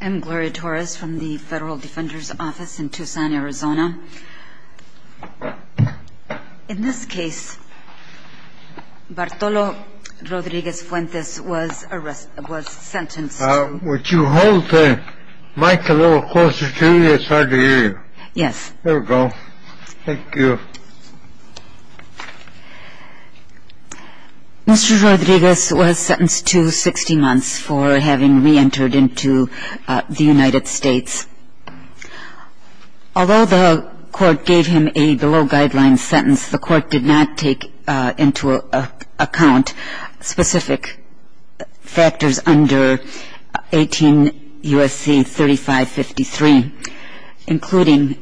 I'm Gloria Torres from the Federal Defender's Office in Tucson, Arizona. In this case, Bartolo Rodriguez-Fuentes was sentenced to Would you hold the mic a little closer to me? It's hard to hear you. Yes. There we go. Thank you. Mr. Rodriguez was sentenced to 60 months for having reentered into the United States. Although the court gave him a below-guideline sentence, the court did not take into account specific factors under 18 U.S.C. 3553, including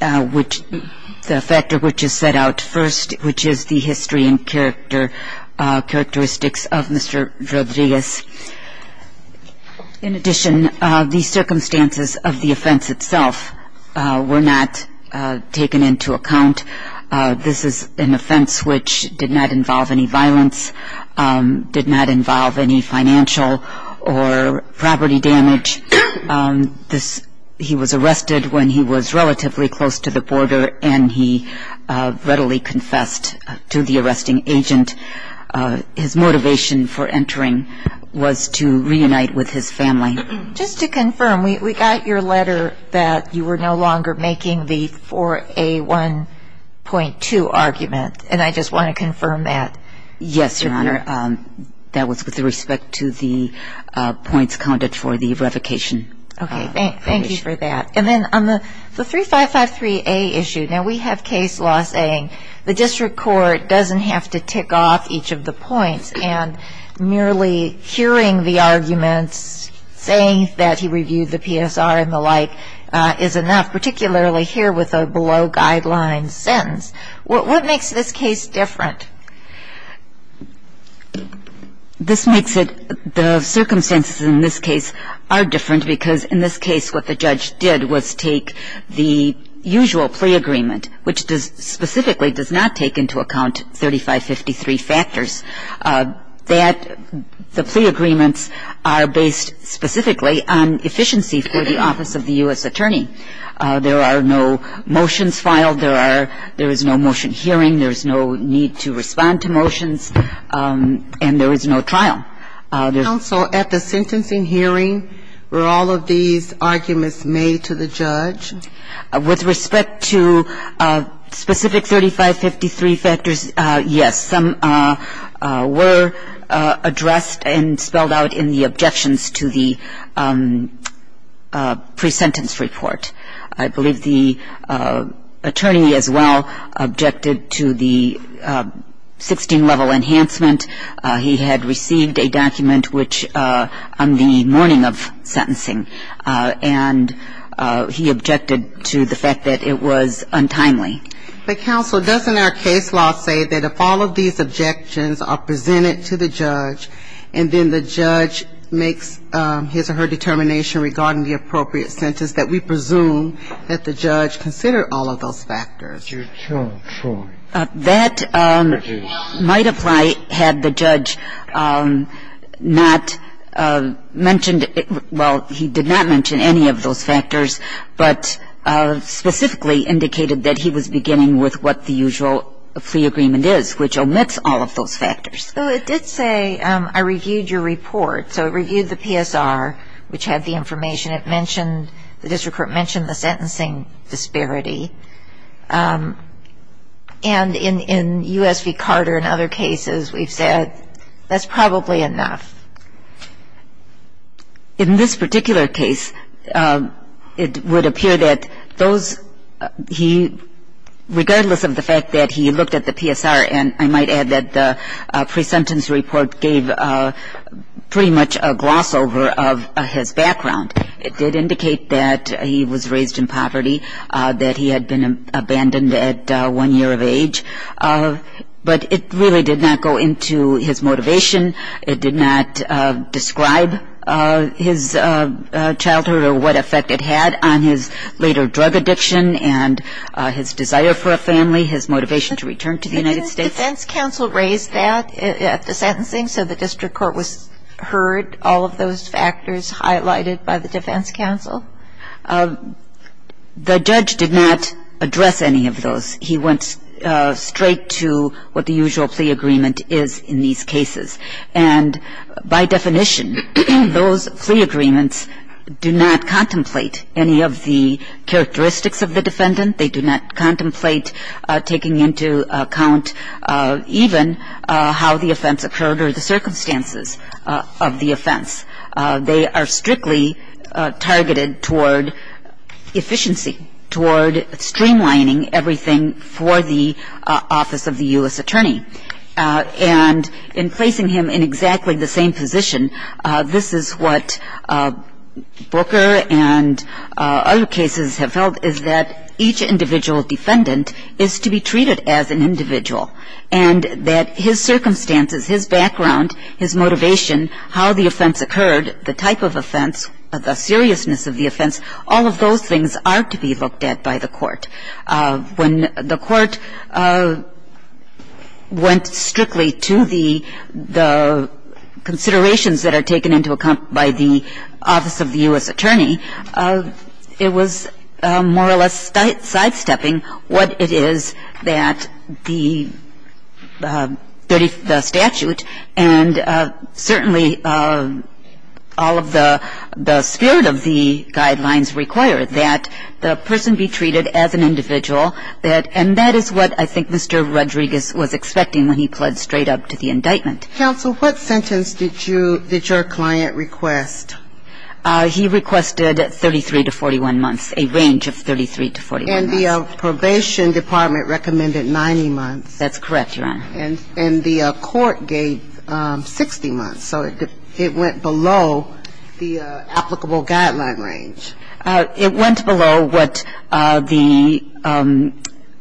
the factor which is set out first, which is the history and characteristics of Mr. Rodriguez. In addition, the circumstances of the offense itself were not taken into account. This is an offense which did not involve any violence, did not involve any financial or property damage. He was arrested when he was relatively close to the border, and he readily confessed to the arresting agent. His motivation for entering was to reunite with his family. Just to confirm, we got your letter that you were no longer making the 4A1.2 argument, and I just want to confirm that. Yes, Your Honor. That was with respect to the points counted for the revocation. Okay. Thank you for that. And then on the 3553A issue, now we have case law saying the district court doesn't have to tick off each of the points, and merely hearing the arguments saying that he reviewed the PSR and the like is enough, particularly here with a below-guideline sentence. What makes this case different? This makes it the circumstances in this case are different because in this case what the judge did was take the usual plea agreement, which does specifically does not take into account 3553 factors, that the plea agreements are based specifically on efficiency for the office of the U.S. attorney. There are no motions filed. There are no motion hearing. There is no need to respond to motions, and there is no trial. Counsel, at the sentencing hearing, were all of these arguments made to the judge? With respect to specific 3553 factors, yes. Some were addressed and spelled out in the objections to the pre-sentence report. I believe the attorney as well objected to the 16-level enhancement. He had received a document which on the morning of sentencing, and he objected to the fact that it was untimely. But, counsel, doesn't our case law say that if all of these objections are presented to the judge, and then the judge makes his or her determination regarding the appropriate sentence, that we presume that the judge considered all of those factors? That might apply had the judge not mentioned it. Well, he did not mention any of those factors, but specifically indicated that he was beginning with what the usual plea agreement is, which omits all of those factors. So it did say, I reviewed your report. So it reviewed the PSR, which had the information. It mentioned, the district court mentioned the sentencing disparity. And in U.S. v. Carter and other cases, we've said that's probably enough. In this particular case, it would appear that those he, regardless of the fact that he looked at the PSR, and I might add that the pre-sentence report gave pretty much a gloss over of his background. It did indicate that he was raised in poverty, that he had been abandoned at one year of age. But it really did not go into his motivation. It did not describe his childhood or what effect it had on his later drug addiction and his desire for a family, his motivation to return to the United States. Didn't the defense counsel raise that at the sentencing, so the district court was heard all of those factors highlighted by the defense counsel? The judge did not address any of those. He went straight to what the usual plea agreement is in these cases. And by definition, those plea agreements do not contemplate any of the characteristics of the defendant. They do not contemplate taking into account even how the offense occurred or the circumstances of the offense. They are strictly targeted toward efficiency, toward streamlining everything for the office of the U.S. attorney. And in placing him in exactly the same position, this is what Booker and other cases have felt is that each individual defendant is to be treated as an individual and that his circumstances, his background, his motivation, how the offense occurred, the type of offense, the seriousness of the offense, all of those things are to be looked at by the court. When the court went strictly to the considerations that are taken into account by the office of the U.S. attorney, it was more or less sidestepping what it is that the statute and certainly all of the spirit of the guidelines require, that the person be treated as an individual. And that is what I think Mr. Rodriguez was expecting when he pled straight up to the indictment. Counsel, what sentence did your client request? He requested 33 to 41 months, a range of 33 to 41 months. And the probation department recommended 90 months. That's correct, Your Honor. And the court gave 60 months. So it went below the applicable guideline range. It went below what the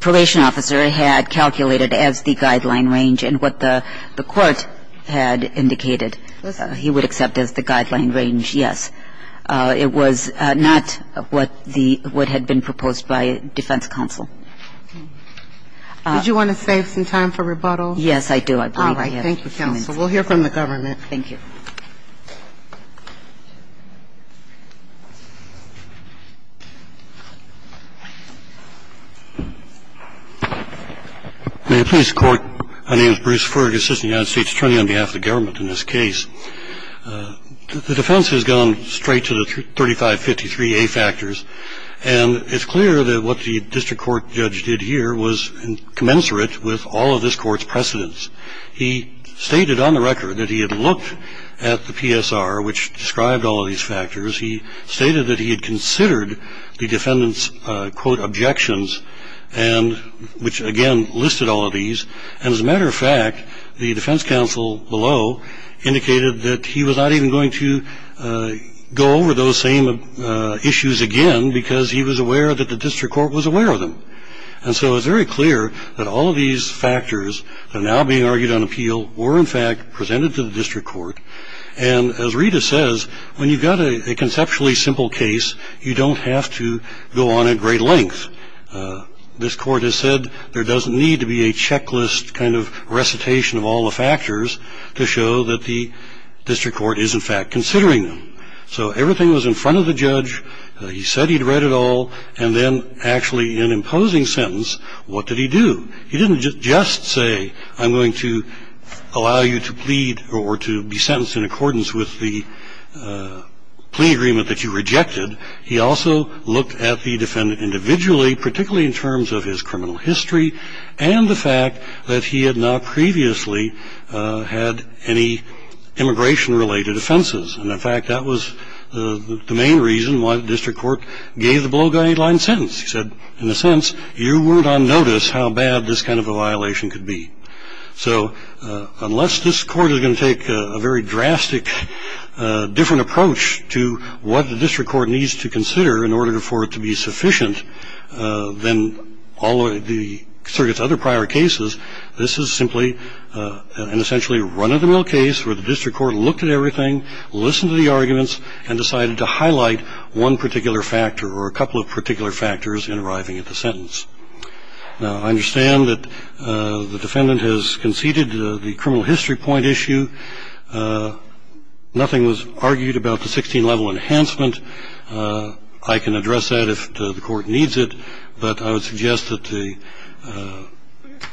probation officer had calculated as the guideline range and what the court had indicated he would accept as the guideline range. Yes. It was not what the – what had been proposed by defense counsel. Did you want to save some time for rebuttal? Yes, I do. All right. Thank you, counsel. We'll hear from the government. Thank you. May it please the Court. My name is Bruce Fergus, assistant United States attorney on behalf of the government in this case. The defense has gone straight to the 3553A factors, and it's clear that what the district court judge did here was commensurate with all of this Court's precedents. He stated on the record that he had looked at the PSR, which described all of these factors. He stated that he had considered the defendant's, quote, objections, and – which, again, listed all of these. And as a matter of fact, the defense counsel below indicated that he was not even going to go over those same issues again because he was aware that the district court was aware of them. And so it's very clear that all of these factors that are now being argued on appeal were, in fact, presented to the district court. And as Rita says, when you've got a conceptually simple case, you don't have to go on at great length. This court has said there doesn't need to be a checklist kind of recitation of all the factors to show that the district court is, in fact, considering them. So everything was in front of the judge. He said he'd read it all. And then, actually, in imposing sentence, what did he do? He didn't just say, I'm going to allow you to plead or to be sentenced in accordance with the plea agreement that you rejected. He also looked at the defendant individually, particularly in terms of his criminal history and the fact that he had not previously had any immigration-related offenses. And, in fact, that was the main reason why the district court gave the below guideline sentence. He said, in a sense, you weren't on notice how bad this kind of a violation could be. So unless this court is going to take a very drastic, different approach to what the district court needs to consider in order for it to be sufficient than all of the circuit's other prior cases, this is simply an essentially run-of-the-mill case where the district court looked at everything, listened to the arguments, and decided to highlight one particular factor or a couple of particular factors in arriving at the sentence. Now, I understand that the defendant has conceded the criminal history point issue. Nothing was argued about the 16-level enhancement. I can address that if the court needs it. But I would suggest that the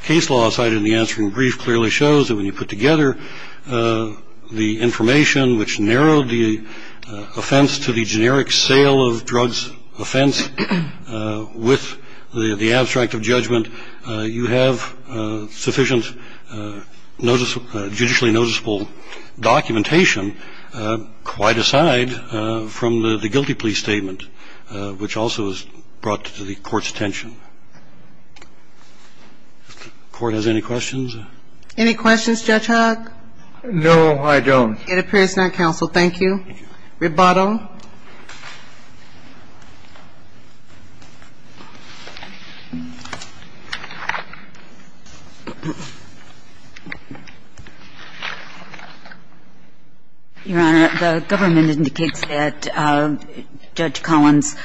case law cited in the answering brief clearly shows that when you put together the information which narrowed the offense to the generic sale of drugs offense with the abstract of judgment, you have sufficient judicially noticeable documentation quite aside from the guilty plea statement, which also is brought to the court's attention. If the court has any questions. Any questions, Judge Hogg? No, I don't. It appears not, counsel. Thank you. Rebotto. Your Honor, the government indicates that Judge Collins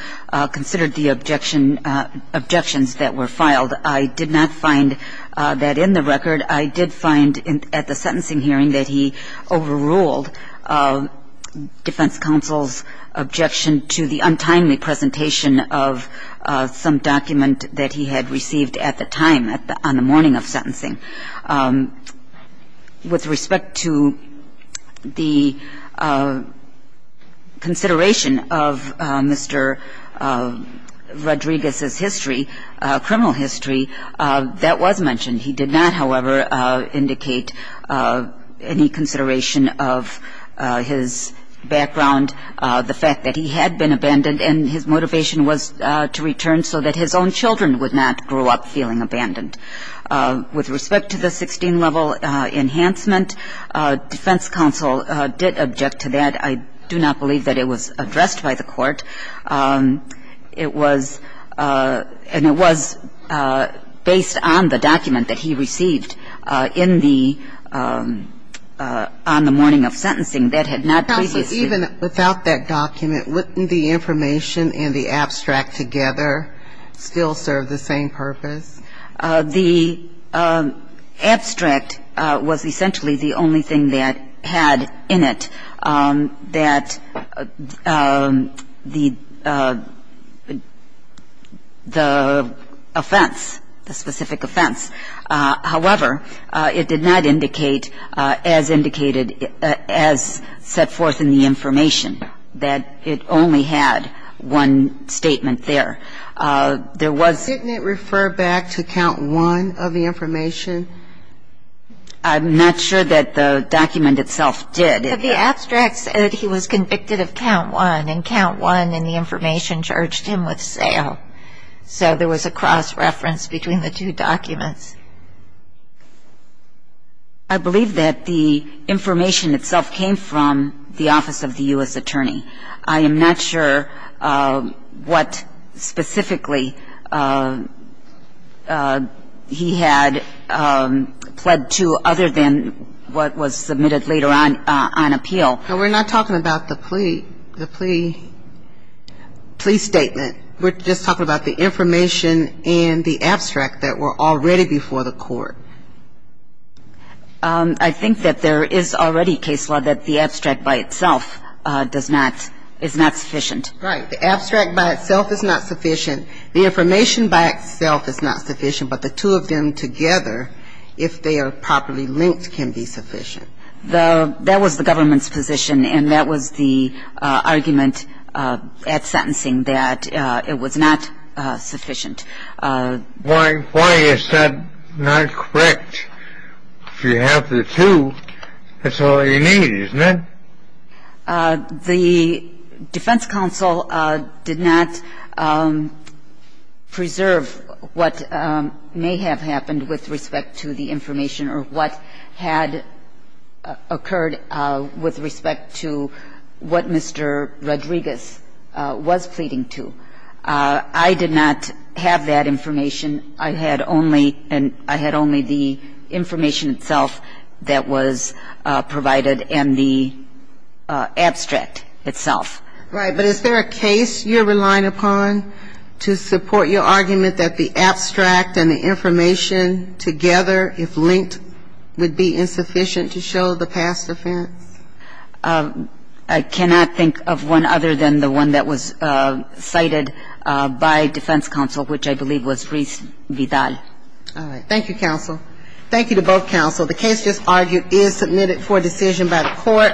considered the objection – objections that were filed. I did not find that in the record. I did find at the sentencing hearing that he overruled defense counsel's objection to the untimely presentation of some document that he had received at the time on the morning of sentencing. With respect to the consideration of Mr. Rodriguez's history, criminal history, that was mentioned. He did not, however, indicate any consideration of his background, the fact that he had been abandoned, and his motivation was to return so that his own children would not grow up feeling abandoned. With respect to the 16-level enhancement, defense counsel did object to that. I do not believe that it was addressed by the court. It was – and it was based on the document that he received in the – on the morning of sentencing that had not previously – Counsel, even without that document, wouldn't the information and the abstract together still serve the same purpose? The abstract was essentially the only thing that had in it that the – the offense, the specific offense. However, it did not indicate as indicated – as set forth in the information that it only had one statement there. There was – Didn't it refer back to count one of the information? I'm not sure that the document itself did. But the abstract said he was convicted of count one, and count one in the information charged him with sale. So there was a cross-reference between the two documents. I believe that the information itself came from the office of the U.S. attorney. I am not sure what specifically he had pled to other than what was submitted later on – on appeal. But we're not talking about the plea – the plea – plea statement. We're just talking about the information and the abstract that were already before the court. I think that there is already case law that the abstract by itself does not – is not sufficient. Right. The abstract by itself is not sufficient. The information by itself is not sufficient. But the two of them together, if they are properly linked, can be sufficient. The – that was the government's position, and that was the argument at sentencing that it was not sufficient. Why is that not correct? If you have the two, that's all you need, isn't it? The defense counsel did not preserve what may have happened with respect to the information or what had occurred with respect to what Mr. Rodriguez was pleading to. I did not have that information. I had only – I had only the information itself that was provided and the abstract itself. Right. But is there a case you're relying upon to support your argument that the abstract and the information together, if linked, would be insufficient to show the past offense? I cannot think of one other than the one that was cited by defense counsel, which I believe was Reese Vidal. All right. Thank you, counsel. Thank you to both counsel. The case just argued is submitted for decision by the Court.